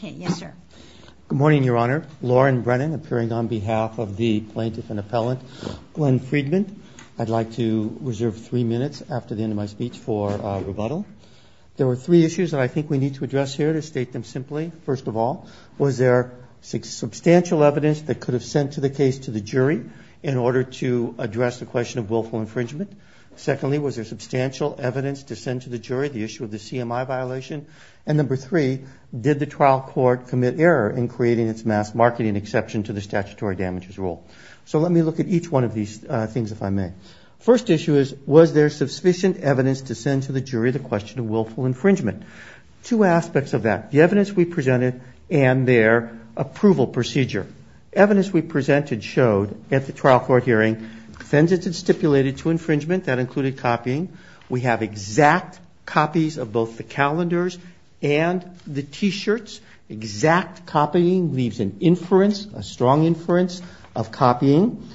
Good morning, Your Honor. Lauren Brennan appearing on behalf of the Plaintiff and Appellant Glenn Friedman. I'd like to reserve three minutes after the end of my speech for rebuttal. There were three issues that I think we need to address here to state them simply. First of all, was there substantial evidence that could have sent to the case to the jury in order to address the question of willful infringement? Secondly, was there substantial evidence to send to the jury the issue of the CMI violation? And number three, did the trial court commit error in creating its mass marketing exception to the statutory damages rule? So let me look at each one of these things if I may. First issue is, was there sufficient evidence to send to the jury the question of willful infringement? Two aspects of that. The evidence we presented and their approval procedure. Evidence we presented showed at the trial court hearing, defendants had stipulated to infringement that included copying. We have exact copies of both the calendars and the t-shirts. Exact copying leaves an inference, a strong inference of copying.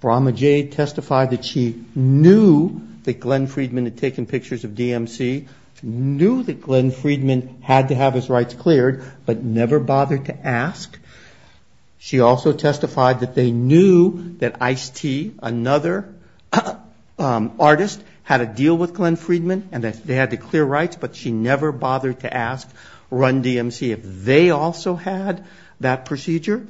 Brahma Jade testified that she knew that Glenn Friedman had taken pictures of DMC, knew that Glenn Friedman had to have his rights cleared, but artist had a deal with Glenn Friedman and that they had to clear rights, but she never bothered to ask Run DMC if they also had that procedure.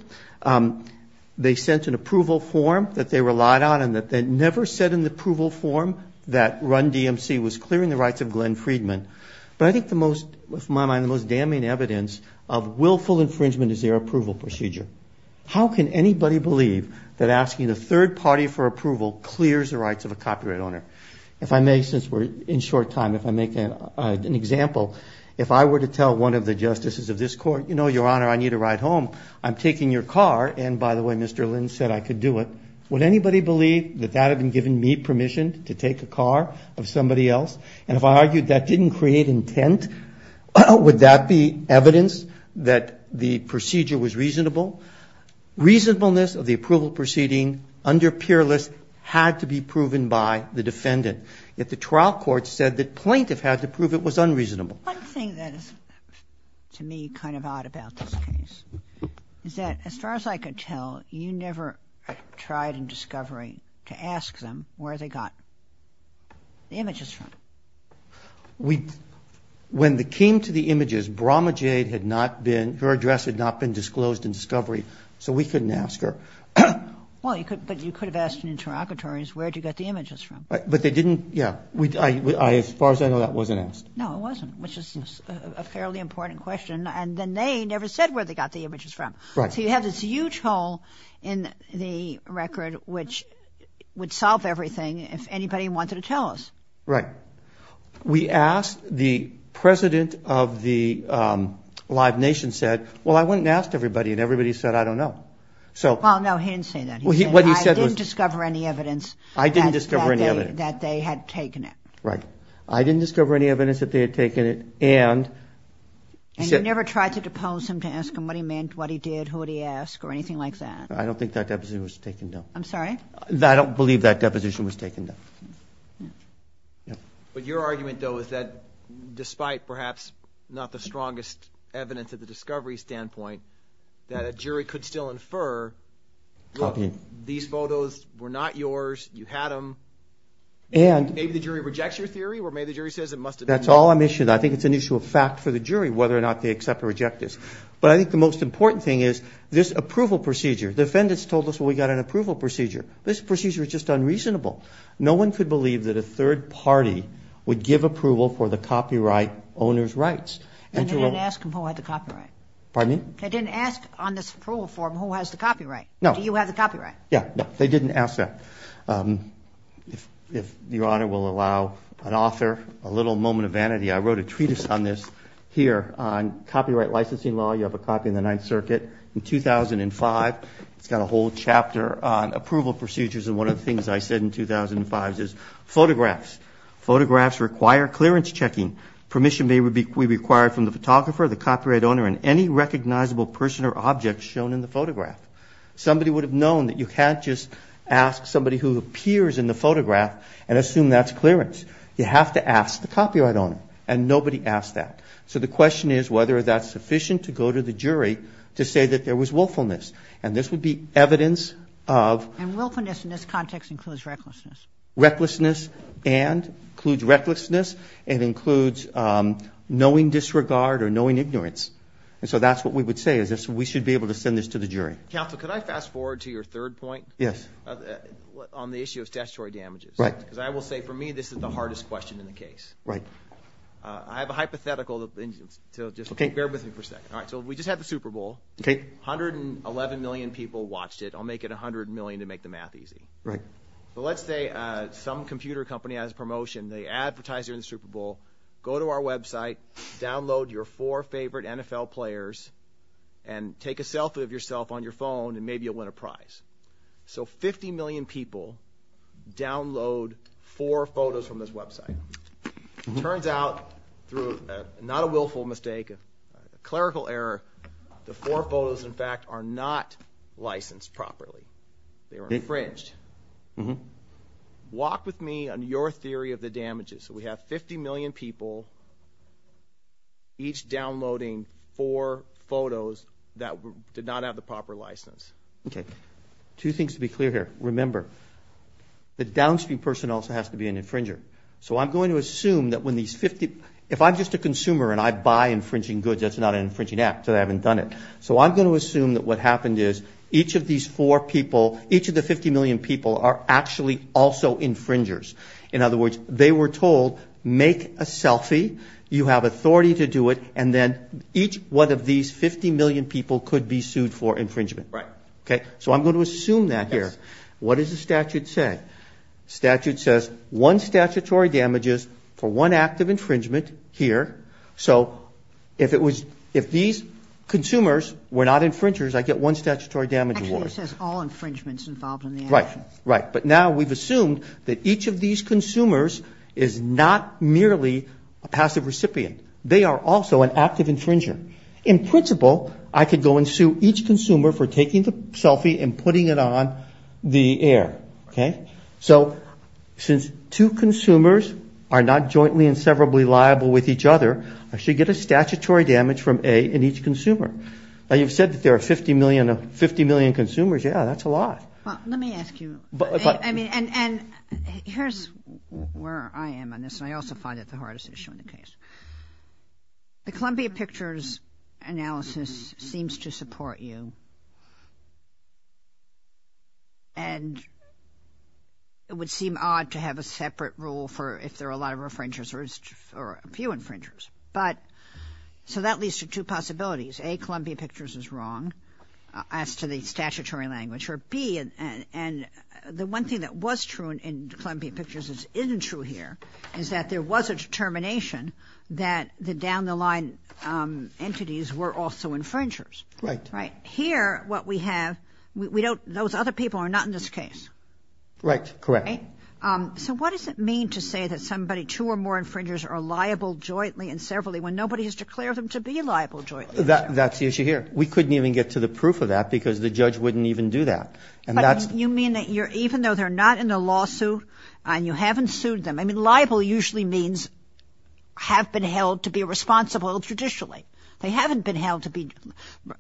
They sent an approval form that they relied on and that they never said in the approval form that Run DMC was clearing the rights of Glenn Friedman. But I think the most, in my mind, the most damning evidence of willful infringement is their approval procedure. How can anybody believe that asking the third party for approval clears the rights of a defendant? If I may, since we're in short time, if I make an example, if I were to tell one of the justices of this court, you know, your honor, I need a ride home. I'm taking your car. And by the way, Mr. Lynn said I could do it. Would anybody believe that that had been given me permission to take a car of somebody else? And if I argued that didn't create intent, would that be evidence that the procedure was reasonable? Reasonableness of the approval proceeding under peerless had to be proven by the defendant. Yet the trial court said that plaintiff had to prove it was unreasonable. One thing that is, to me, kind of odd about this case is that as far as I could tell, you never tried in discovery to ask them where they got the images from. We, when they came to the images, Brahma Jade had not been, her address had not been disclosed in discovery, so we couldn't ask her. Well, you could, but you could have asked in interlocutories, where'd you get the images from? But they didn't. Yeah. As far as I know, that wasn't asked. No, it wasn't, which is a fairly important question. And then they never said where they got the images from. So you have this huge hole in the record, which would solve everything if anybody wanted to tell us. Right. We asked, the president of the Live Nation said, well, I went and asked everybody and everybody said, I don't know. Well, no, he didn't say that. He said, I didn't discover any evidence that they had taken it. Right. I didn't discover any evidence that they had taken it. And you never tried to depose him to ask him what he meant, what he did, who did he ask or anything like that? I don't think that deposition was taken, no. I'm sorry? I don't believe that deposition was taken, no. But your argument, though, is that despite perhaps not the strongest evidence at the time to infer, look, these photos were not yours, you had them, and maybe the jury rejects your theory or maybe the jury says it must have been me. That's all I'm issuing. I think it's an issue of fact for the jury, whether or not they accept or reject this. But I think the most important thing is this approval procedure. The defendants told us we got an approval procedure. This procedure is just unreasonable. No one could believe that a third party would give approval for the copyright owner's rights. And they didn't ask him who had the copyright. Pardon me? They didn't ask on this approval form who has the copyright. No. Do you have the copyright? Yeah, they didn't ask that. If Your Honor will allow an author a little moment of vanity. I wrote a treatise on this here on copyright licensing law. You have a copy in the Ninth Circuit in 2005. It's got a whole chapter on approval procedures. And one of the things I said in 2005 is photographs. Photographs require clearance checking. Permission may be required from the photographer, the copyright owner, and any recognizable person or object shown in the photograph. Somebody would have known that you can't just ask somebody who appears in the photograph and assume that's clearance. You have to ask the copyright owner. And nobody asked that. So the question is whether that's sufficient to go to the jury to say that there was willfulness. And this would be evidence of. And willfulness in this context includes recklessness. Recklessness and includes recklessness. It includes knowing disregard or knowing ignorance. And so that's what we would say is this. We should be able to send this to the jury. Counsel, could I fast forward to your third point? Yes. On the issue of statutory damages. Right. Because I will say for me, this is the hardest question in the case. Right. I have a hypothetical. So just bear with me for a second. All right. So we just had the Super Bowl. Okay. Hundred and eleven million people watched it. I'll make it a hundred million to make the math easy. Right. But let's say some computer company has a promotion. They advertise it in the Super Bowl. Go to our website, download your four favorite NFL players and take a selfie of yourself on your phone and maybe you'll win a prize. So 50 million people download four photos from this website. Turns out through not a willful mistake, a clerical error. The four photos, in fact, are not licensed properly. They were infringed. Walk with me on your theory of the damages. So we have 50 million people each downloading four photos that did not have the proper license. Okay. Two things to be clear here. Remember, the downstream person also has to be an infringer. So I'm going to assume that when these 50, if I'm just a consumer and I buy infringing goods, that's not an infringing act, so I haven't done it. So I'm going to assume that what happened is each of these four people, each of the 50 million people are actually also infringers. In other words, they were told, make a selfie. You have authority to do it. And then each one of these 50 million people could be sued for infringement. Right. Okay. So I'm going to assume that here. What does the statute say? Statute says one statutory damages for one act of infringement here. So if it was, if these consumers were not infringers, I get one statutory damage. Actually it says all infringements involved in the action. Right. But now we've assumed that each of these consumers is not merely a passive recipient. They are also an active infringer. In principle, I could go and sue each consumer for taking the selfie and putting it on the air. Okay. So since two consumers are not jointly and severably liable with each other, I should get a statutory damage from A in each consumer. You've said that there are 50 million consumers. Yeah, that's a lot. Well, let me ask you, I mean, and here's where I am on this. And I also find it the hardest issue in the case. The Columbia Pictures analysis seems to support you and it would seem odd to have a separate rule for if there are a lot of infringers or a few infringers. But so that leads to two possibilities. A, Columbia Pictures is wrong as to the statutory language. Or B, and the one thing that was true in Columbia Pictures that isn't true here is that there was a determination that the down the line entities were also infringers, right? Here, what we have, we don't, those other people are not in this case. Right. Correct. So what does it mean to say that somebody, two or more infringers are liable jointly and severally when nobody has declared them to be liable jointly? That's the issue here. We couldn't even get to the proof of that because the judge wouldn't even do that. And that's... You mean that you're, even though they're not in a lawsuit and you haven't sued them, I mean, liable usually means have been held to be responsible judicially. They haven't been held to be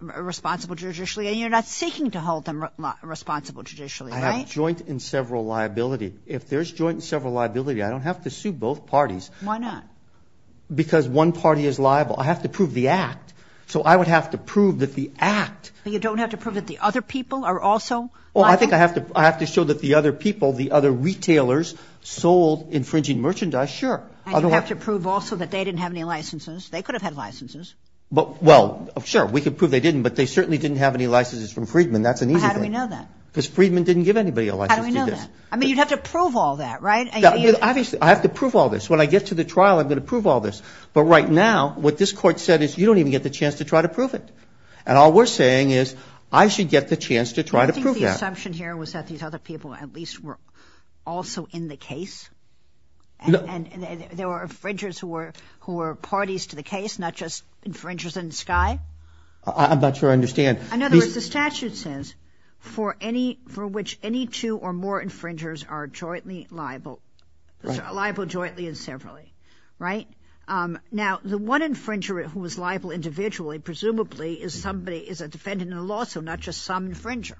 responsible judicially and you're not seeking to hold them responsible judicially, right? I have joint and several liability. If there's joint and several liability, I don't have to sue both parties. Why not? Because one party is liable. I have to prove the act. So I would have to prove that the act... You don't have to prove that the other people are also liable? Well, I think I have to, I have to show that the other people, the other retailers sold infringing merchandise. Sure. I don't have to prove also that they didn't have any licenses. They could have had licenses. But, well, sure we could prove they didn't, but they certainly didn't have any licenses from Friedman. That's an easy thing. How do we know that? Because Friedman didn't give anybody a license to do this. I mean, you'd have to prove all that, right? Obviously I have to prove all this. When I get to the trial, I'm going to prove all this. But right now, what this court said is you don't even get the chance to try to prove it. And all we're saying is I should get the chance to try to prove that. Do you think the assumption here was that these other people at least were also in the case? And there were infringers who were, who were parties to the case, not just infringers in the sky? I'm not sure I understand. In other words, the statute says for any, for which any two or more infringers are jointly liable, liable jointly and severally, right? Now the one infringer who was liable individually, presumably is somebody, is a defendant in a lawsuit, not just some infringer.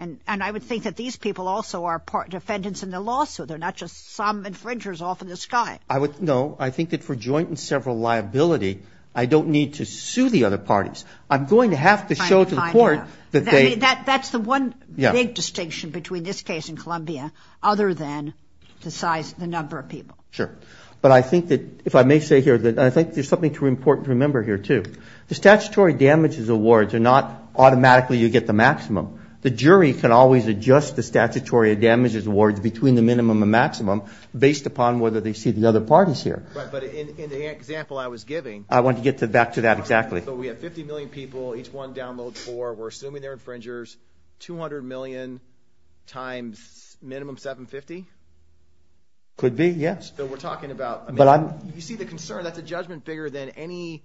And, and I would think that these people also are part defendants in the lawsuit. They're not just some infringers off in the sky. I would, no, I think that for joint and several liability, I don't need to sue the other parties. I'm going to have to show to the court that they... I mean, that, that's the one big distinction between this case in Columbia, other than the size, the number of people. Sure. But I think that if I may say here that I think there's something too important to remember here too. The statutory damages awards are not automatically you get the maximum. The jury can always adjust the statutory damages awards between the minimum and maximum based upon whether they see the other parties here. Right. But in the example I was giving... I want to get to back to that. Exactly. So we have 50 million people, each one downloads four, we're assuming they're infringers, 200 million times minimum 750? Could be, yes. So we're talking about, you see the concern, that's a judgment bigger than any,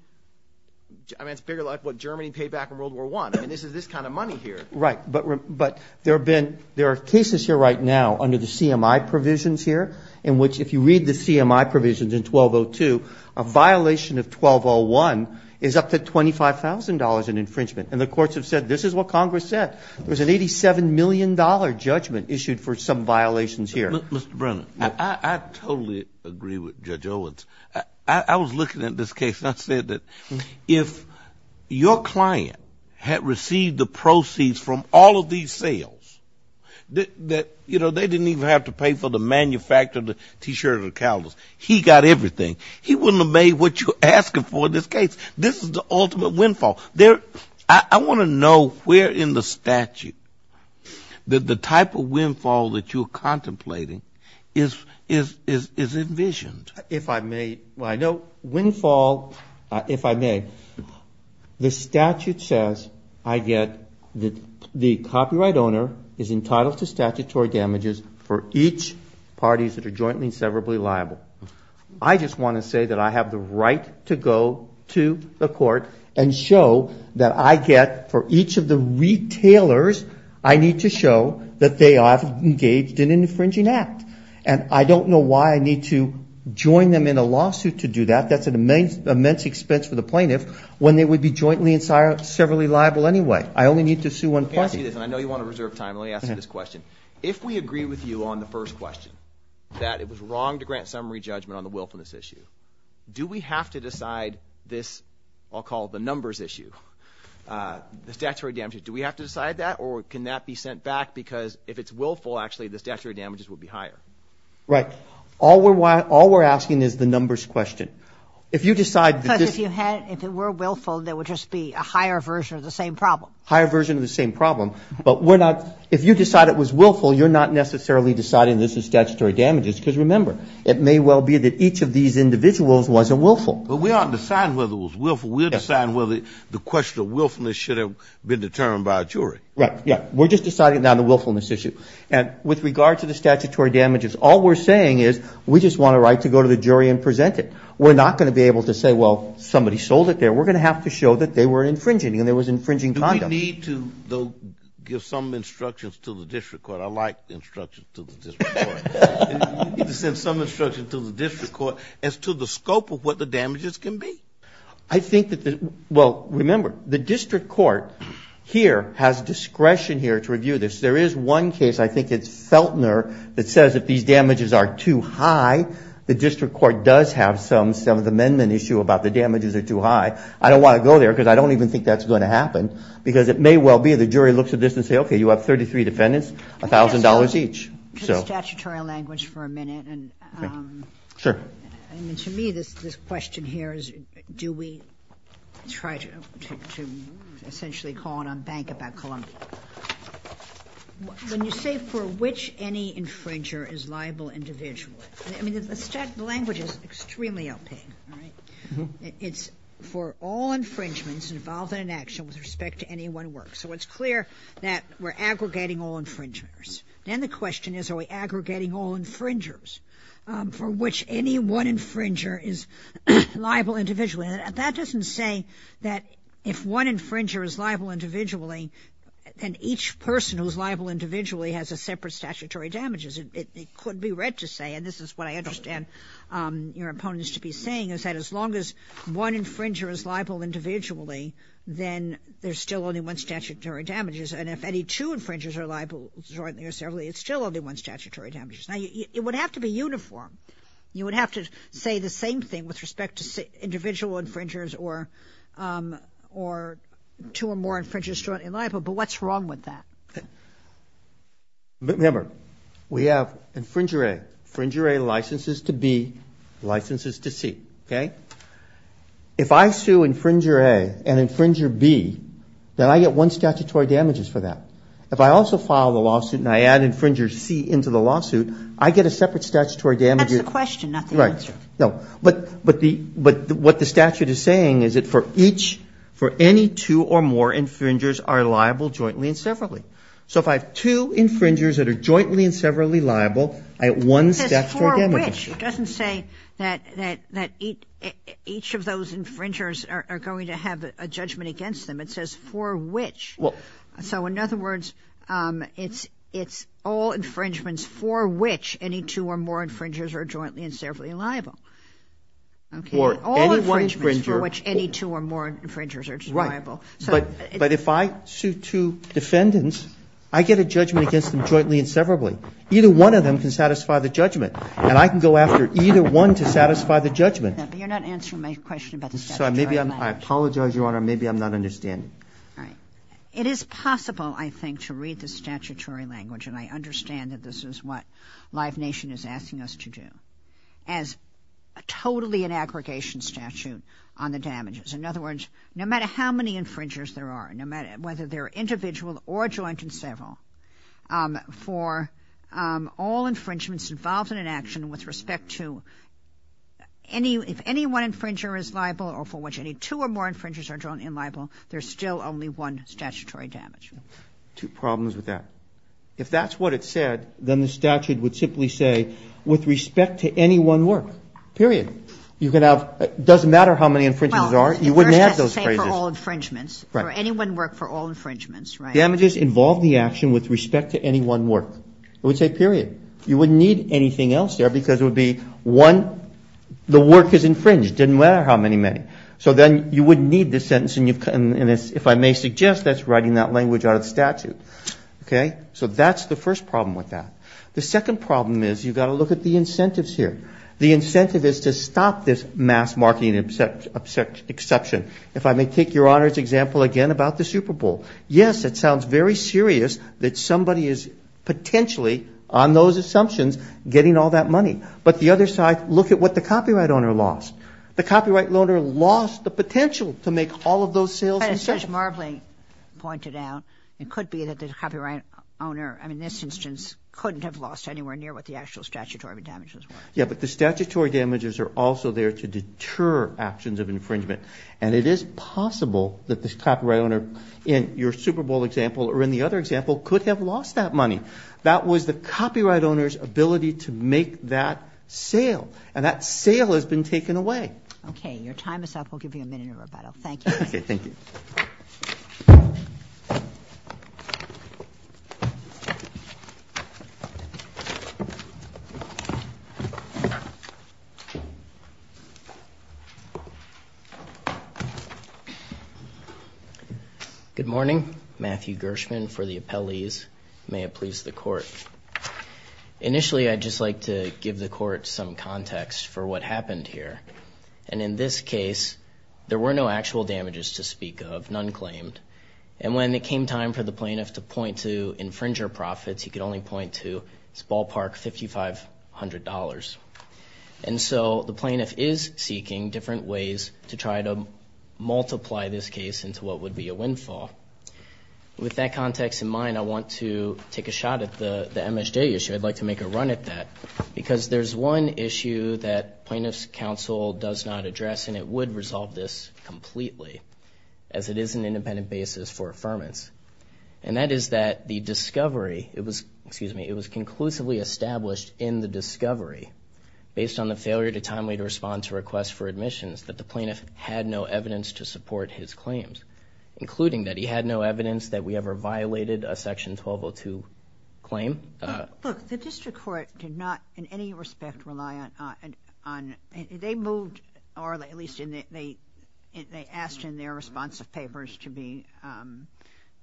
I mean, it's bigger like what Germany paid back in World War I. I mean, this is this kind of money here. Right. But there have been, there are cases here right now under the CMI provisions here, in which if you read the CMI provisions in 1202, a violation of 1201 is up to $25,000 in infringement. And the courts have said, this is what Congress said. There was an $87 million judgment issued for some violations here. Mr. Brennan, I totally agree with Judge Owens. I was looking at this case and I said that if your client had received the proceeds from all of these sales, that, you know, they didn't even have to pay for the manufacturer of the T-shirt or the cowls, he got everything. He wouldn't have made what you're asking for in this case. This is the ultimate windfall. There, I want to know where in the statute that the type of windfall that you're contemplating is envisioned. If I may, well, I know windfall, if I may, the statute says I get that the copyright owner is entitled to statutory damages for each parties that are jointly and severably liable. I just want to say that I have the right to go to the court and show that I get for each of the retailers, I need to show that they are engaged in an infringing act, and I don't know why I need to join them in a lawsuit to do that. That's an immense expense for the plaintiff when they would be jointly and severally liable anyway. I only need to sue one party. Okay, I see this, and I know you want to reserve time. Let me ask you this question. If we agree with you on the first question, that it was wrong to grant summary judgment on the willfulness issue, do we have to decide this, I'll say, the statutory damages, do we have to decide that, or can that be sent back because if it's willful, actually, the statutory damages would be higher? Right. All we're asking is the numbers question. If you decide that this- Because if you had, if it were willful, there would just be a higher version of the same problem. Higher version of the same problem, but we're not, if you decide it was willful, you're not necessarily deciding this is statutory damages. Because remember, it may well be that each of these individuals wasn't willful. But we aren't deciding whether it was willful. We're deciding whether the question of willfulness should have been determined by a jury. Right. Yeah. We're just deciding now the willfulness issue. And with regard to the statutory damages, all we're saying is we just want a right to go to the jury and present it. We're not going to be able to say, well, somebody sold it there. We're going to have to show that they were infringing and there was infringing condom. Do we need to, though, give some instructions to the district court? I like instructions to the district court. You need to send some instruction to the district court as to the scope of what the damages can be. I think that the, well, remember, the district court here has discretion here to review this. There is one case, I think it's Feltner, that says if these damages are too high, the district court does have some, some of the amendment issue about the damages are too high. I don't want to go there because I don't even think that's going to happen because it may well be the jury looks at this and say, okay, you have 33 defendants, a thousand dollars each. So. Statutorial language for a minute. And, um, I mean, to me, this, this question here is, do we try to, to, to essentially call it on bank about Columbia? When you say for which any infringer is liable individually, I mean, the language is extremely opaque, right? It's for all infringements involved in an action with respect to any one work. So it's clear that we're aggregating all infringers. Then the question is, are we aggregating all infringers, um, for which any one infringer is liable individually? And that doesn't say that if one infringer is liable individually, and each person who's liable individually has a separate statutory damages, it could be read to say, and this is what I understand, um, your opponents to be saying is that as long as one infringer is liable individually, then there's still only one statutory damages. And if any two infringers are liable jointly or separately, it's still only one statutory damages. Now it would have to be uniform. You would have to say the same thing with respect to individual infringers or, um, or two or more infringers in liable, but what's wrong with that? Remember, we have infringer A, infringer A licenses to B, licenses to C. Okay. If I sue infringer A and infringer B, then I get one statutory damages for that. If I also filed a lawsuit and I add infringer C into the lawsuit, I get a statutory damages. That's the question, not the answer. No, but, but the, but what the statute is saying is that for each, for any two or more infringers are liable jointly and separately. So if I have two infringers that are jointly and separately liable, I get one statutory damages. It doesn't say that, that, that each, each of those infringers are going to have a judgment against them. It says for which, so in other words, um, it's, it's all infringements for which any two or more infringers are jointly and separately liable. Okay. Or any one infringer. For which any two or more infringers are liable. So, but if I sue two defendants, I get a judgment against them jointly and separately. Either one of them can satisfy the judgment and I can go after either one to satisfy the judgment. Yeah, but you're not answering my question about the statutory language. So maybe I'm, I apologize, Your Honor. Maybe I'm not understanding. All right. It is possible, I think, to read the statutory language and I understand that this is what Live Nation is asking us to do, as totally an aggregation statute on the damages. In other words, no matter how many infringers there are, no matter whether they're individual or joint and several, um, for, um, all infringements involved in an action with respect to any, if any one infringer is liable or for which any two or more infringers are jointly liable, there's still only one statutory damage. Two problems with that. If that's what it said, then the statute would simply say with respect to any one work, period. You can have, it doesn't matter how many infringers there are, you wouldn't have those phrases. For all infringements, for any one work, for all infringements, right? Damages involve the action with respect to any one work. It would say, period. You wouldn't need anything else there because it would be one, the work is infringed, didn't matter how many, many. So then you wouldn't need this sentence. And if I may suggest that's writing that language out of the statute. Okay. So that's the first problem with that. The second problem is you've got to look at the incentives here. The incentive is to stop this mass marketing exception. If I may take your honor's example again about the Super Bowl. Yes, it sounds very serious that somebody is potentially on those assumptions, getting all that money. But the other side, look at what the copyright owner lost. The copyright loaner lost the potential to make all of those sales. That is such marbling pointed out. It could be that the copyright owner, I mean, this instance couldn't have lost anywhere near what the actual statutory damages. Yeah. But the statutory damages are also there to deter actions of infringement. And it is possible that this copyright owner in your Super Bowl example, or in the other example could have lost that money. That was the copyright owner's ability to make that sale. And that sale has been taken away. Okay. Your time is up. We'll give you a minute of rebuttal. Thank you. Okay. Thank you. Good morning, Matthew Gershman for the appellees. May it please the court. Initially, I'd just like to give the court some context for what happened here. And in this case, there were no actual damages to speak of, none claimed. And when it came time for the plaintiff to point to infringer profits, he could only point to his ballpark $5,500. And so the plaintiff is seeking different ways to try to multiply this case into what would be a windfall. With that context in mind, I want to take a shot at the MSJ issue. I'd like to make a run at that because there's one issue that plaintiffs counsel does not address, and it would resolve this completely as it is an independent basis for affirmance. And that is that the discovery, it was, excuse me, it was conclusively established in the discovery based on the failure to timely respond to requests for admissions that the plaintiff had no evidence to support his claims, including that he had no evidence that we ever violated a section 1202 claim. Look, the district court did not in any respect rely on, they moved, or at least they asked in their response of papers to be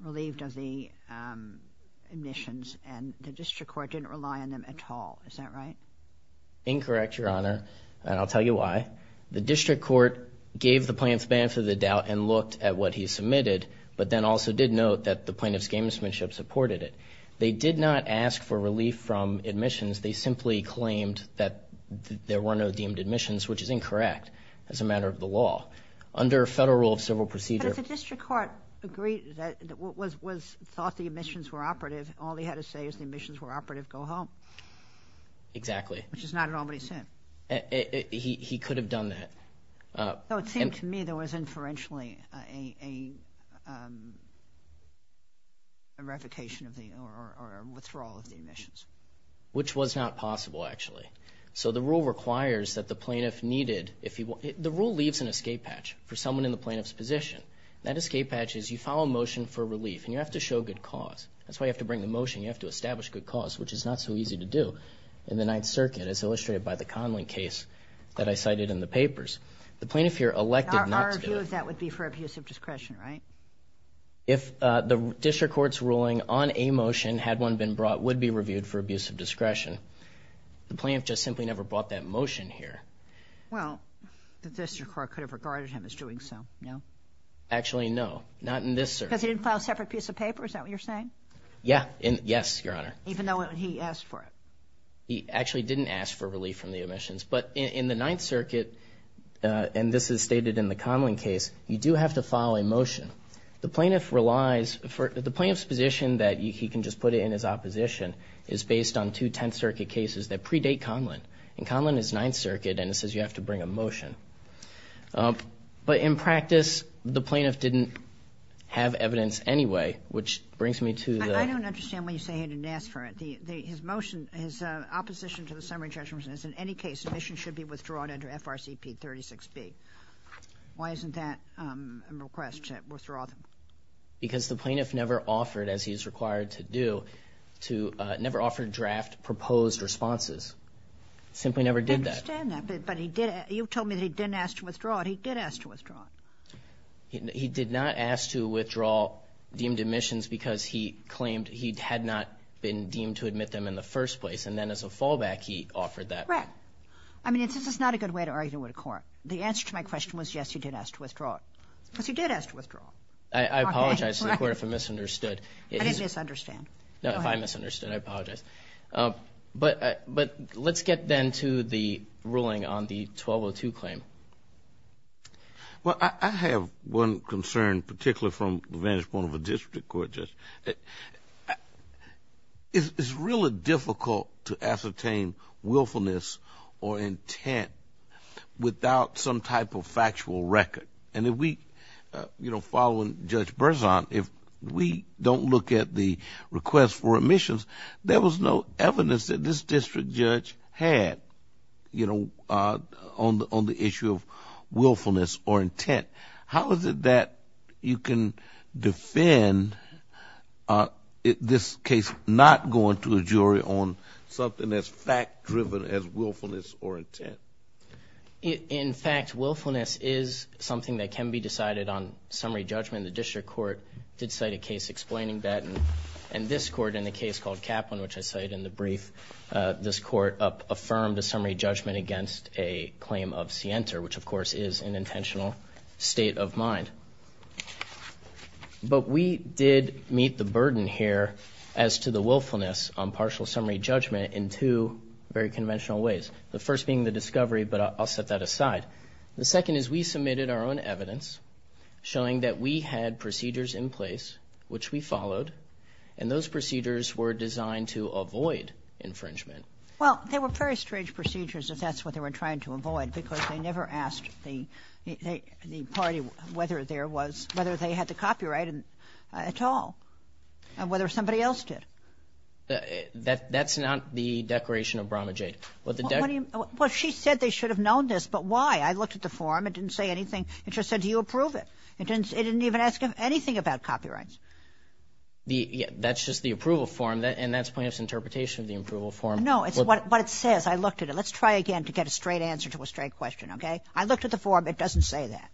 relieved of the admissions and the district court didn't rely on them at all, is that right? Incorrect, Your Honor. And I'll tell you why. The district court gave the plaintiff's ban for the doubt and looked at what he submitted, but then also did note that the plaintiff's gamesmanship supported it. They did not ask for relief from admissions. They simply claimed that there were no deemed admissions, which is incorrect as a matter of the law. Under federal rule of civil procedure... But if the district court agreed that what was thought the admissions were operative, all they had to say is the admissions were operative, go home. Exactly. Which is not at all what he said. He could have done that. So it seemed to me there was inferentially a revocation of the, or a withdrawal of the admissions. Which was not possible actually. So the rule requires that the plaintiff needed, if he, the rule leaves an escape hatch for someone in the plaintiff's position, that escape hatch is you file a motion for relief and you have to show good cause. That's why you have to bring the motion. You have to establish good cause, which is not so easy to do in the Ninth Circuit as illustrated by the Conlin case that I cited in the papers. The plaintiff here elected not to do it. Our view of that would be for abuse of discretion, right? If the district court's ruling on a motion, had one been brought, would be reviewed for abuse of discretion. The plaintiff just simply never brought that motion here. Well, the district court could have regarded him as doing so, no? Actually, no. Not in this circuit. Because he didn't file a separate piece of paper? Is that what you're saying? Yeah. Yes, Your Honor. Even though he asked for it? He actually didn't ask for relief from the admissions. But in the Ninth Circuit, and this is stated in the Conlin case, you do have to file a motion. The plaintiff relies, the plaintiff's position that he can just put it in his opposition is based on two Tenth Circuit cases that predate Conlin. And Conlin is Ninth Circuit, and it says you have to bring a motion. But in practice, the plaintiff didn't have evidence anyway, which brings me to the... I don't understand why you say he didn't ask for it. His motion, his opposition to the summary judgment is in any case, admissions should be withdrawn under FRCP 36B. Why isn't that a request to withdraw them? Because the plaintiff never offered, as he is required to do, never offered draft proposed responses. Simply never did that. I understand that, but you told me that he didn't ask to withdraw it. He did ask to withdraw it. He did not ask to withdraw deemed admissions because he claimed he had not been deemed to admit them in the first place. And then as a fallback, he offered that. Correct. I mean, this is not a good way to argue with the court. The answer to my question was, yes, he did ask to withdraw it. Because he did ask to withdraw. I apologize to the court if I misunderstood. I didn't misunderstand. No, if I misunderstood, I apologize. But let's get then to the ruling on the 1202 claim. Well, I have one concern, particularly from the vantage point of a district court. It's really difficult to ascertain willfulness or intent without some type of factual record, and if we, you know, following Judge Berzon, if we don't look at the request for admissions, there was no evidence that this district judge had, you know, on the issue of willfulness or intent. How is it that you can defend this case not going to a jury on something that's fact-driven as willfulness or intent? In fact, willfulness is something that can be decided on summary judgment. The district court did cite a case explaining that, and this court in the case called Kaplan, which I cited in the brief, this court affirmed a summary judgment against a claim of scienter, which of course is an intentional state of mind. But we did meet the burden here as to the willfulness on partial summary judgment in two very conventional ways. The first being the discovery, but I'll set that aside. The second is we submitted our own evidence showing that we had procedures in place, which we followed, and those procedures were designed to avoid infringement. Well, they were very strange procedures, if that's what they were trying to avoid, because they never asked the party whether there was, whether they had the copyright at all, and whether somebody else did. That's not the Declaration of Bromage Aid. Well, she said they should have known this, but why? I looked at the form. It didn't say anything. It just said, do you approve it? It didn't even ask him anything about copyrights. That's just the approval form, and that's plaintiff's interpretation of the approval form. No, it's what it says. I looked at it. Let's try again to get a straight answer to a straight question. Okay. I looked at the form. It doesn't say that.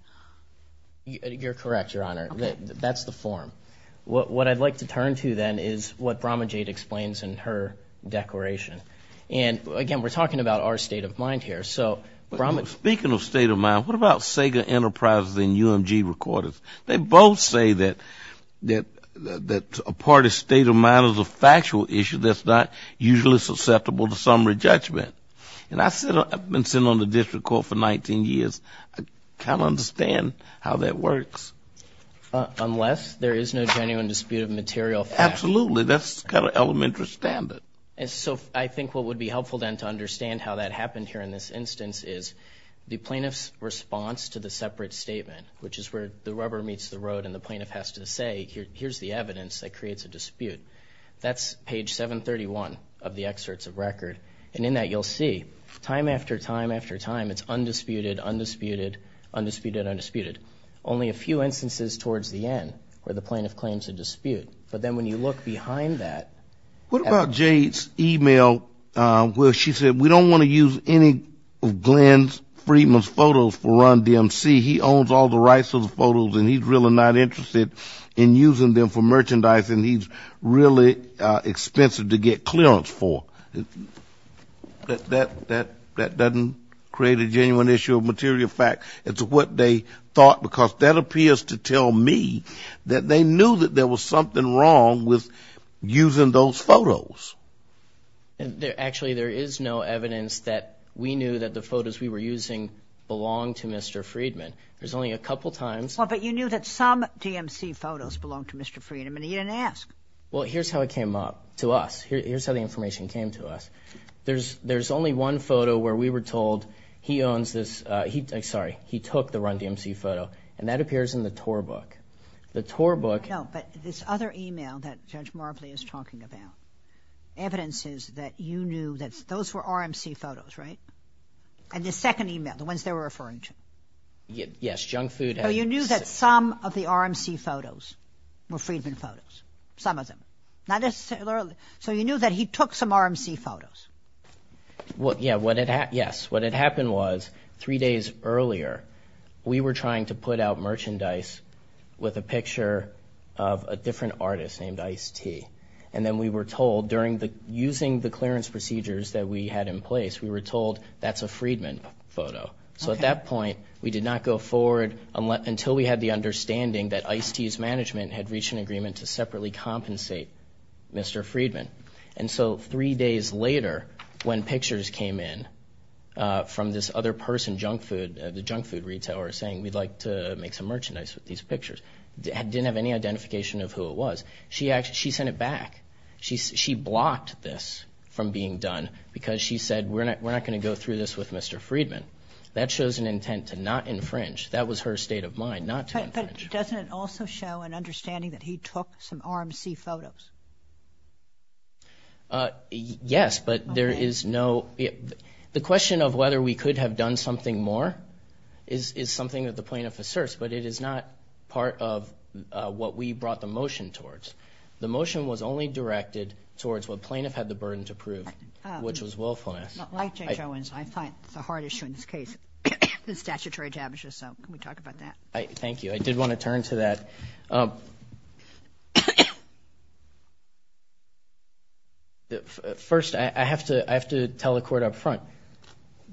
You're correct, Your Honor. That's the form. What I'd like to turn to then is what Bromage Aid explains in her declaration. And again, we're talking about our state of mind here. So, speaking of state of mind, what about Sega Enterprises and UMG recorders? They both say that a party's state of mind is a factual issue that's not usually susceptible to summary judgment. And I've been sitting on the district court for 19 years. I kind of understand how that works. Unless there is no genuine dispute of material facts. Absolutely. That's kind of elementary standard. And so, I think what would be helpful then to understand how that happened here in this instance is the plaintiff's response to the separate statement, which is where the rubber meets the road and the plaintiff has to say, here's the evidence that creates a dispute. That's page 731 of the excerpts of record. And in that, you'll see time after time after time, it's undisputed, undisputed, undisputed, undisputed. Only a few instances towards the end where the plaintiff claims a dispute. But then when you look behind that. What about Jade's email where she said, we don't want to use any of Glenn Friedman's photos for Run DMC. He owns all the rights to the photos and he's really not interested in using them for really expensive to get clearance for. That doesn't create a genuine issue of material fact. It's what they thought, because that appears to tell me that they knew that there was something wrong with using those photos. And actually, there is no evidence that we knew that the photos we were using belong to Mr. Friedman. There's only a couple of times. But you knew that some DMC photos belong to Mr. Friedman. He didn't ask. Well, here's how it came up to us. Here's how the information came to us. There's there's only one photo where we were told he owns this. Sorry. He took the Run DMC photo and that appears in the TOR book. The TOR book. No, but this other email that Judge Marbley is talking about, evidence is that you knew that those were RMC photos, right? And the second email, the ones they were referring to. Yes. So you knew that some of the RMC photos were Friedman photos, some of them, not necessarily. So you knew that he took some RMC photos. Well, yeah, what it had. Yes. What had happened was three days earlier, we were trying to put out merchandise with a picture of a different artist named Ice T. And then we were told during the using the clearance procedures that we had in place, we were told that's a Friedman photo. So at that point, we did not go forward until we had the understanding that Ice T's management had reached an agreement to separately compensate Mr. Friedman. And so three days later, when pictures came in from this other person, junk food, the junk food retailer, saying we'd like to make some merchandise with these pictures, didn't have any identification of who it was. She actually she sent it back. She she blocked this from being done because she said, we're not we're not going to go through this with Mr. Friedman. That shows an intent to not infringe. That was her state of mind, not to infringe. But doesn't it also show an understanding that he took some RMC photos? Yes, but there is no. The question of whether we could have done something more is something that the plaintiff asserts, but it is not part of what we brought the motion towards. The motion was only directed towards what plaintiff had the burden to prove, which was this case, the statutory damages. So we talk about that. Thank you. I did want to turn to that. First, I have to I have to tell the court up front,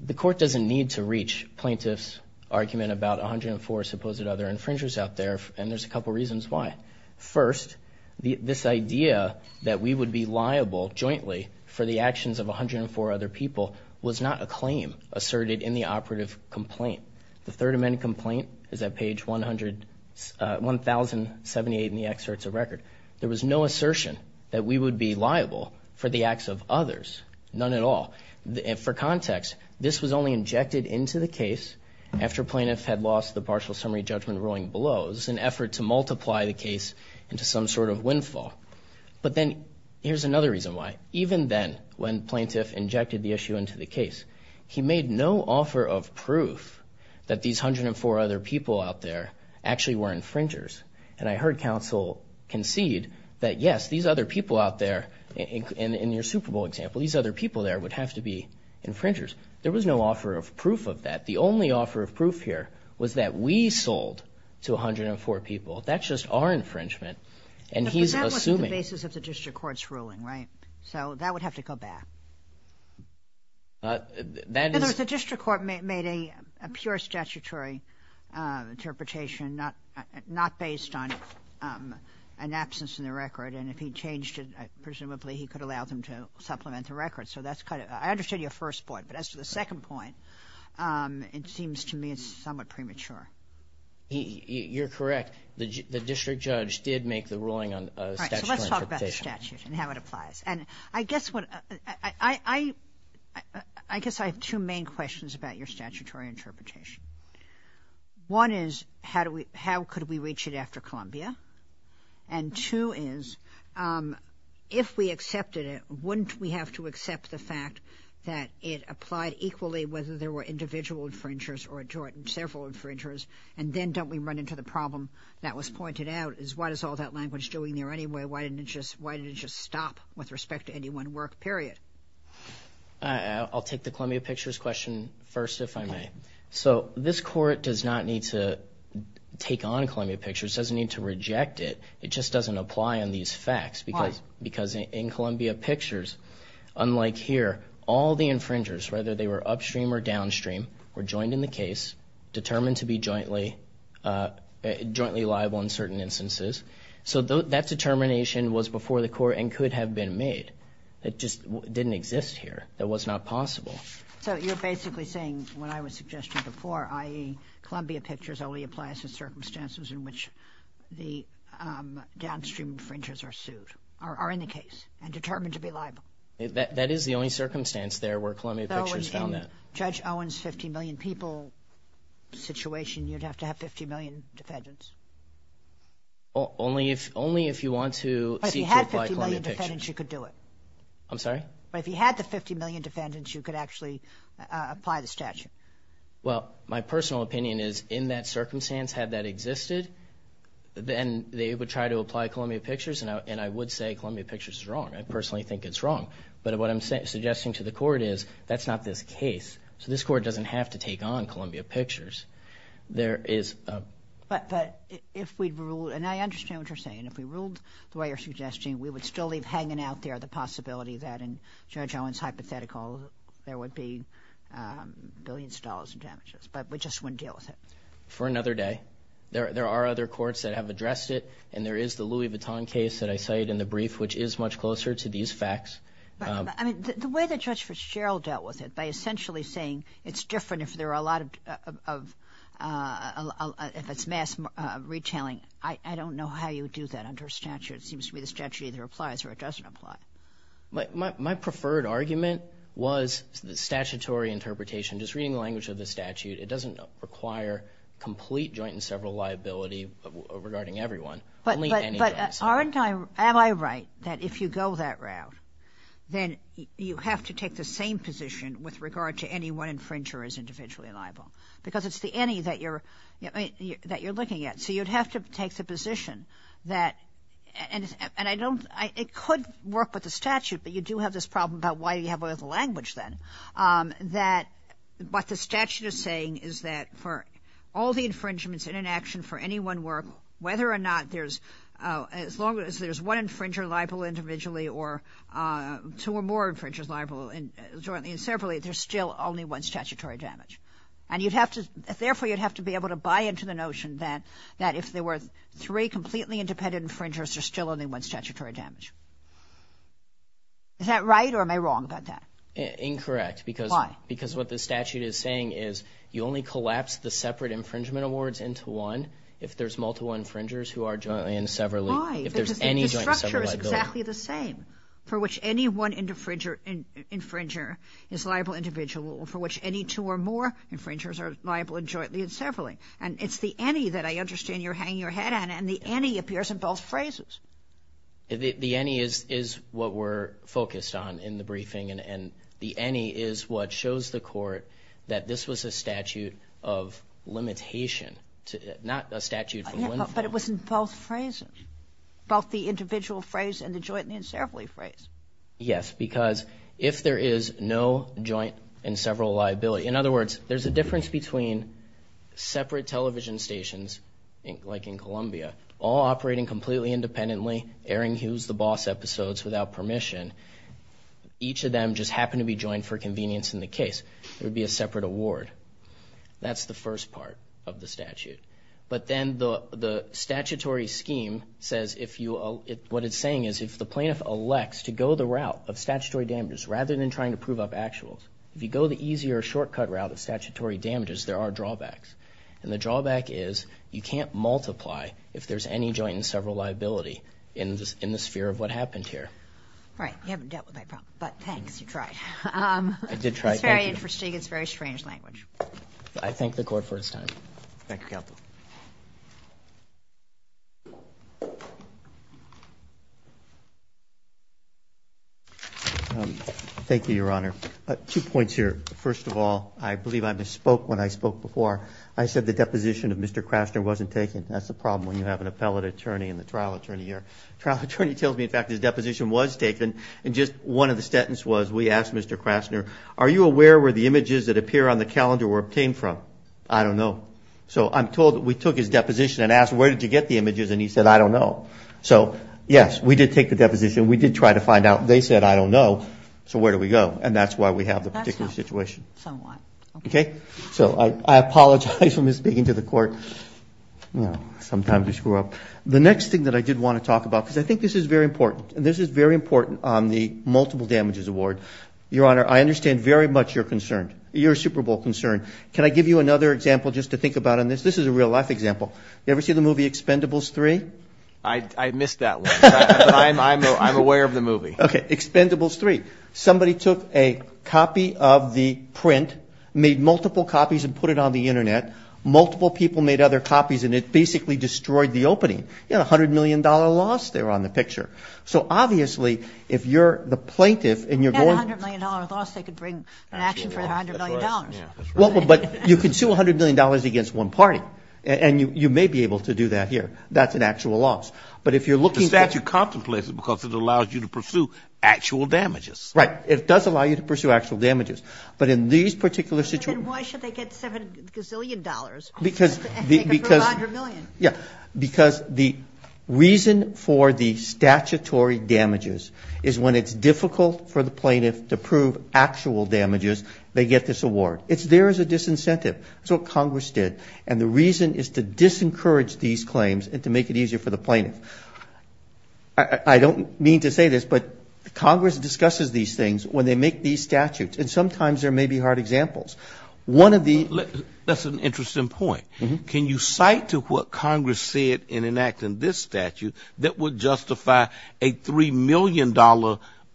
the court doesn't need to reach plaintiffs argument about 104 supposed other infringers out there. And there's a couple of reasons why. First, this idea that we would be liable jointly for the actions of 104 other people was not a claim asserted in the operative complaint. The Third Amendment complaint is at page 100, 1078 in the excerpts of record. There was no assertion that we would be liable for the acts of others. None at all. For context, this was only injected into the case after plaintiff had lost the partial summary judgment ruling below. It was an effort to multiply the case into some sort of windfall. But then here's another reason why. Even then, when plaintiff injected the issue into the case, he made no offer of proof that these 104 other people out there actually were infringers. And I heard counsel concede that, yes, these other people out there, in your Super Bowl example, these other people there would have to be infringers. There was no offer of proof of that. The only offer of proof here was that we sold to 104 people. That's just our infringement. And he's assuming. But that wasn't the basis of the district court's ruling, right? So that would have to go back. That is the district court made a pure statutory interpretation, not based on an absence in the record. And if he changed it, presumably he could allow them to supplement the record. So that's kind of I understood your first point. But as to the second point, it seems to me it's somewhat premature. You're correct. The district judge did make the ruling on the statute and how it applies. And I guess what I I guess I have two main questions about your statutory interpretation. One is how do we how could we reach it after Columbia? And two is if we accepted it, wouldn't we have to accept the fact that it applied equally whether there were individual infringers or a joint and several infringers? And then don't we run into the problem that was pointed out is why does all that language doing there anyway? Why didn't it just why did it just stop with respect to any one work period? I'll take the Columbia Pictures question first, if I may. So this court does not need to take on Columbia Pictures, doesn't need to reject it. It just doesn't apply on these facts because because in Columbia Pictures, unlike here, all the infringers, whether they were upstream or downstream, were joined in the case determined to be jointly jointly liable in certain instances. So that determination was before the court and could have been made. It just didn't exist here. That was not possible. So you're basically saying what I was suggesting before, i.e. Columbia Pictures only applies to circumstances in which the downstream infringers are sued or are in the case and determined to be liable. That is the only circumstance there where Columbia Pictures found that. Judge Owens, 50 million people situation, you'd have to have 50 million defendants. Only if only if you want to see if you could do it, I'm sorry, but if you had the 50 million defendants, you could actually apply the statute. Well, my personal opinion is in that circumstance, had that existed, then they would try to apply Columbia Pictures. And I would say Columbia Pictures is wrong. I personally think it's wrong. But what I'm suggesting to the court is that's not this case. So this court doesn't have to take on Columbia Pictures. But if we ruled, and I understand what you're saying, if we ruled the way you're suggesting, we would still leave hanging out there the possibility that in Judge Owens hypothetical, there would be billions of dollars in damages, but we just wouldn't deal with it. For another day. There are other courts that have addressed it. And there is the Louis Vuitton case that I cited in the brief, which is much closer to these facts. I mean, the way that Judge Fitzgerald dealt with it by essentially saying it's a lot of, if it's mass retailing, I don't know how you would do that under statute. It seems to me the statute either applies or it doesn't apply. But my preferred argument was the statutory interpretation. Just reading the language of the statute, it doesn't require complete joint and several liability regarding everyone. But aren't I, am I right? That if you go that route, then you have to take the same position with regard to any one infringer as individually liable, because it's the any that you're, that you're looking at. So you'd have to take the position that, and I don't, it could work with the statute, but you do have this problem about why do you have all the language then, that what the statute is saying is that for all the infringements in an action for any one work, whether or not there's, as long as there's one infringer liable individually or two or more infringers liable jointly and separately, there's still only one statutory damage. And you'd have to, therefore you'd have to be able to buy into the notion that, that if there were three completely independent infringers, there's still only one statutory damage. Is that right? Or am I wrong about that? Incorrect. Because, because what the statute is saying is you only collapse the separate infringement awards into one. If there's multiple infringers who are jointly and severally, if there's any joint and several liability. The infringer is exactly the same for which any one infringer is liable individually or for which any two or more infringers are liable jointly and severally. And it's the any that I understand you're hanging your head on and the any appears in both phrases. The any is, is what we're focused on in the briefing. And, and the any is what shows the court that this was a statute of limitation to, not a statute for one thing. But it was in both phrases, both the individual phrase and the jointly and severally phrase. Yes. Because if there is no joint and several liability, in other words, there's a difference between separate television stations, like in Columbia, all operating completely independently, airing who's the boss episodes without permission. Each of them just happened to be joined for convenience in the case. There'd be a separate award. That's the first part of the statute. But then the, the statutory scheme says, if you, what it's saying is if the plaintiff elects to go the route of statutory damages, rather than trying to prove up actuals, if you go the easier shortcut route of statutory damages, there are drawbacks. And the drawback is you can't multiply if there's any joint and several liability in this, in the sphere of what happened here. Right. You haven't dealt with that problem, but thanks. You tried. It's very interesting. It's very strange language. I thank the court for its time. Thank you, counsel. Thank you, your honor. Two points here. First of all, I believe I misspoke when I spoke before. I said the deposition of Mr. Krasner wasn't taken. That's the problem when you have an appellate attorney in the trial attorney here, trial attorney tells me, in fact, his deposition was taken. And just one of the sentence was, we asked Mr. Krasner, are you aware where the images that appear on the calendar were obtained from? I don't know. So I'm told that we took his deposition and asked, where did you get the images? And he said, I don't know. So yes, we did take the deposition. We did try to find out. They said, I don't know. So where do we go? And that's why we have the particular situation. Okay. So I apologize for misspeaking to the court. No, sometimes we screw up. The next thing that I did want to talk about, because I think this is very important and this is very important on the multiple damages award. Your honor, I understand very much. You're concerned. You're a Superbowl concern. Can I give you another example just to think about on this? This is a real life example. You ever see the movie Expendables 3? I missed that one. I'm aware of the movie. Okay. Expendables 3. Somebody took a copy of the print, made multiple copies and put it on the internet. Multiple people made other copies and it basically destroyed the opening. You had a hundred million dollar loss there on the picture. So obviously if you're the plaintiff and you're going to bring an action for a hundred million dollars. Well, but you can sue a hundred million dollars against one party and you may be able to do that here. That's an actual loss. But if you're looking at. The statute contemplates it because it allows you to pursue actual damages. Right. It does allow you to pursue actual damages. But in these particular situations. Why should they get seven gazillion dollars? Because, because, yeah, because the reason for the statutory damages is when it's difficult for the plaintiff to prove actual damages. They get this award. It's there as a disincentive. So Congress did. And the reason is to disencourage these claims and to make it easier for the plaintiff. I don't mean to say this, but Congress discusses these things when they make these statutes. And sometimes there may be hard examples. One of the. That's an interesting point. Can you cite to what Congress said in enacting this statute that would justify a $3 million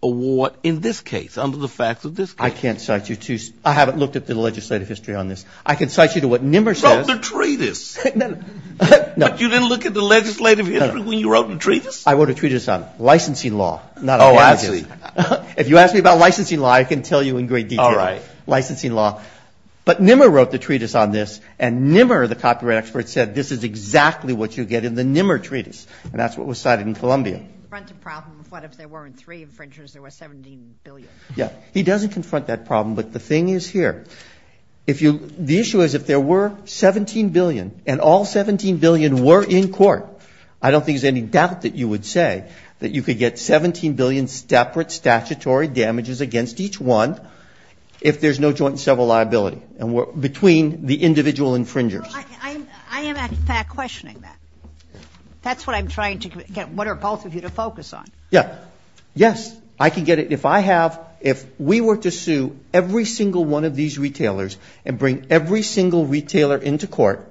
award in this case under the facts of this? I can't cite you to. I haven't looked at the legislative history on this. I can cite you to what Nimmer says. Wrote the treatise. But you didn't look at the legislative history when you wrote the treatise? I wrote a treatise on licensing law. Not on damages. If you ask me about licensing law, I can tell you in great detail. All right. Licensing law. But Nimmer wrote the treatise on this and Nimmer, the copyright expert, said this is exactly what you get in the Nimmer treatise. And that's what was cited in Columbia. Front of problem of what if there weren't three infringers, there were 17 billion. Yeah. He doesn't confront that problem. But the thing is here, if you, the issue is if there were 17 billion and all 17 billion were in court, I don't think there's any doubt that you would say that you could get 17 billion separate statutory damages against each one if there's no joint and several liability. And we're between the individual infringers. I am in fact questioning that. That's what I'm trying to get. What are both of you to focus on? Yeah. Yes. I can get it. If I have, if we were to sue every single one of these retailers and bring every single retailer into court,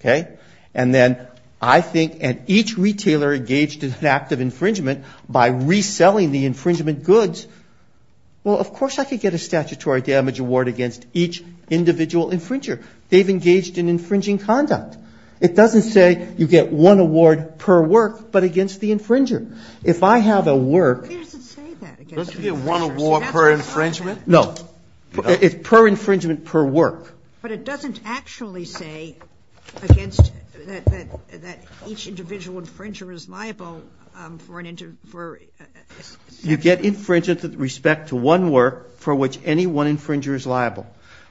okay. And then I think, and each retailer engaged in an act of infringement by reselling the infringement goods. Well, of course I could get a statutory damage award against each individual infringer. They've engaged in infringing conduct. It doesn't say you get one award per work, but against the infringer, if I have a work, no, it's per infringement per work, but it doesn't actually say against that, that, that each individual infringer is liable for an inter, for you get infringed with respect to one work for which any one infringer is liable.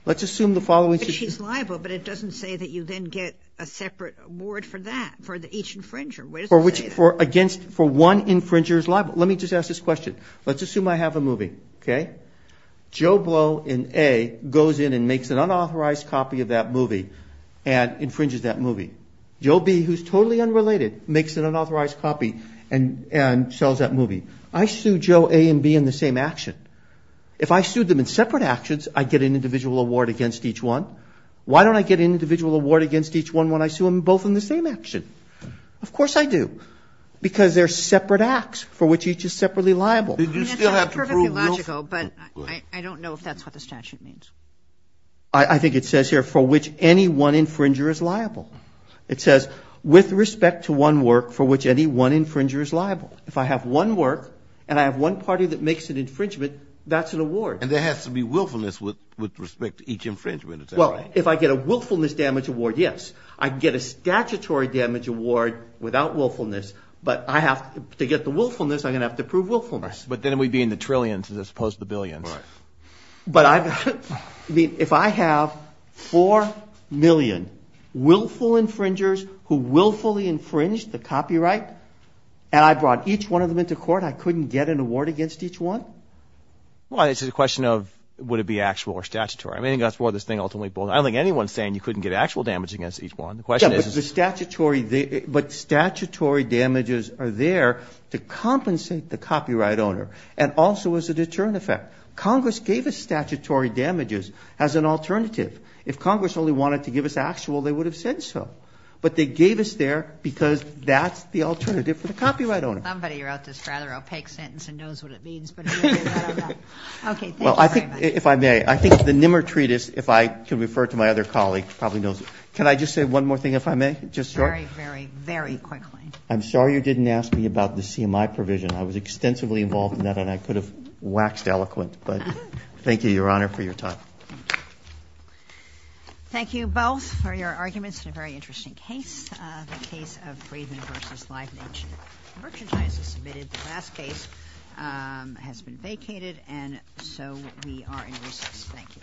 Let's assume the following, she's liable, but it doesn't say that you then get a separate award for that, for the each infringer, for which, for against, for one infringer is liable. Let me just ask this question. Let's assume I have a movie, okay? Joe Blow in A goes in and makes an unauthorized copy of that movie and infringes that movie. Joe B, who's totally unrelated, makes an unauthorized copy and, and sells that movie. I sued Joe A and B in the same action. If I sued them in separate actions, I'd get an individual award against each one. Why don't I get an individual award against each one when I sue them both in the same action? Of course I do, because they're separate acts for which each is separately liable. Did you still have to prove willful? But I don't know if that's what the statute means. I think it says here for which any one infringer is liable. It says with respect to one work for which any one infringer is liable. If I have one work and I have one party that makes an infringement, that's an award. And there has to be willfulness with, with respect to each infringement. Well, if I get a willfulness damage award, yes. I can get a statutory damage award without willfulness, but I have to get the willfulness. I'm going to have to prove willfulness. But then we'd be in the trillions as opposed to the billions. But I mean, if I have 4 million willful infringers who willfully infringed the copyright, and I brought each one of them into court, I couldn't get an award against each one? Well, it's a question of would it be actual or statutory? I mean, that's more of this thing ultimately. I don't think anyone's saying you couldn't get actual damage against each one. The question is, is the statutory, but statutory damages are there to compensate the copyright owner. And also as a deterrent effect, Congress gave us statutory damages as an alternative. If Congress only wanted to give us actual, they would have said so, but they gave us there because that's the alternative for the copyright owner. Somebody wrote this rather opaque sentence and knows what it means. Okay. Well, I think if I may, I think the Nimmer Treatise, if I can refer to my other colleague, probably knows. Can I just say one more thing, if I may? Just very, very, very quickly. I'm sorry you didn't ask me about the CMI provision. I was extensively involved in that and I could have waxed eloquent, but thank you, Your Honor, for your time. Thank you both for your arguments and a very interesting case. The case of Friedman versus Leibniz Merchandise is submitted. The last case has been vacated and so we are in recess. Thank you.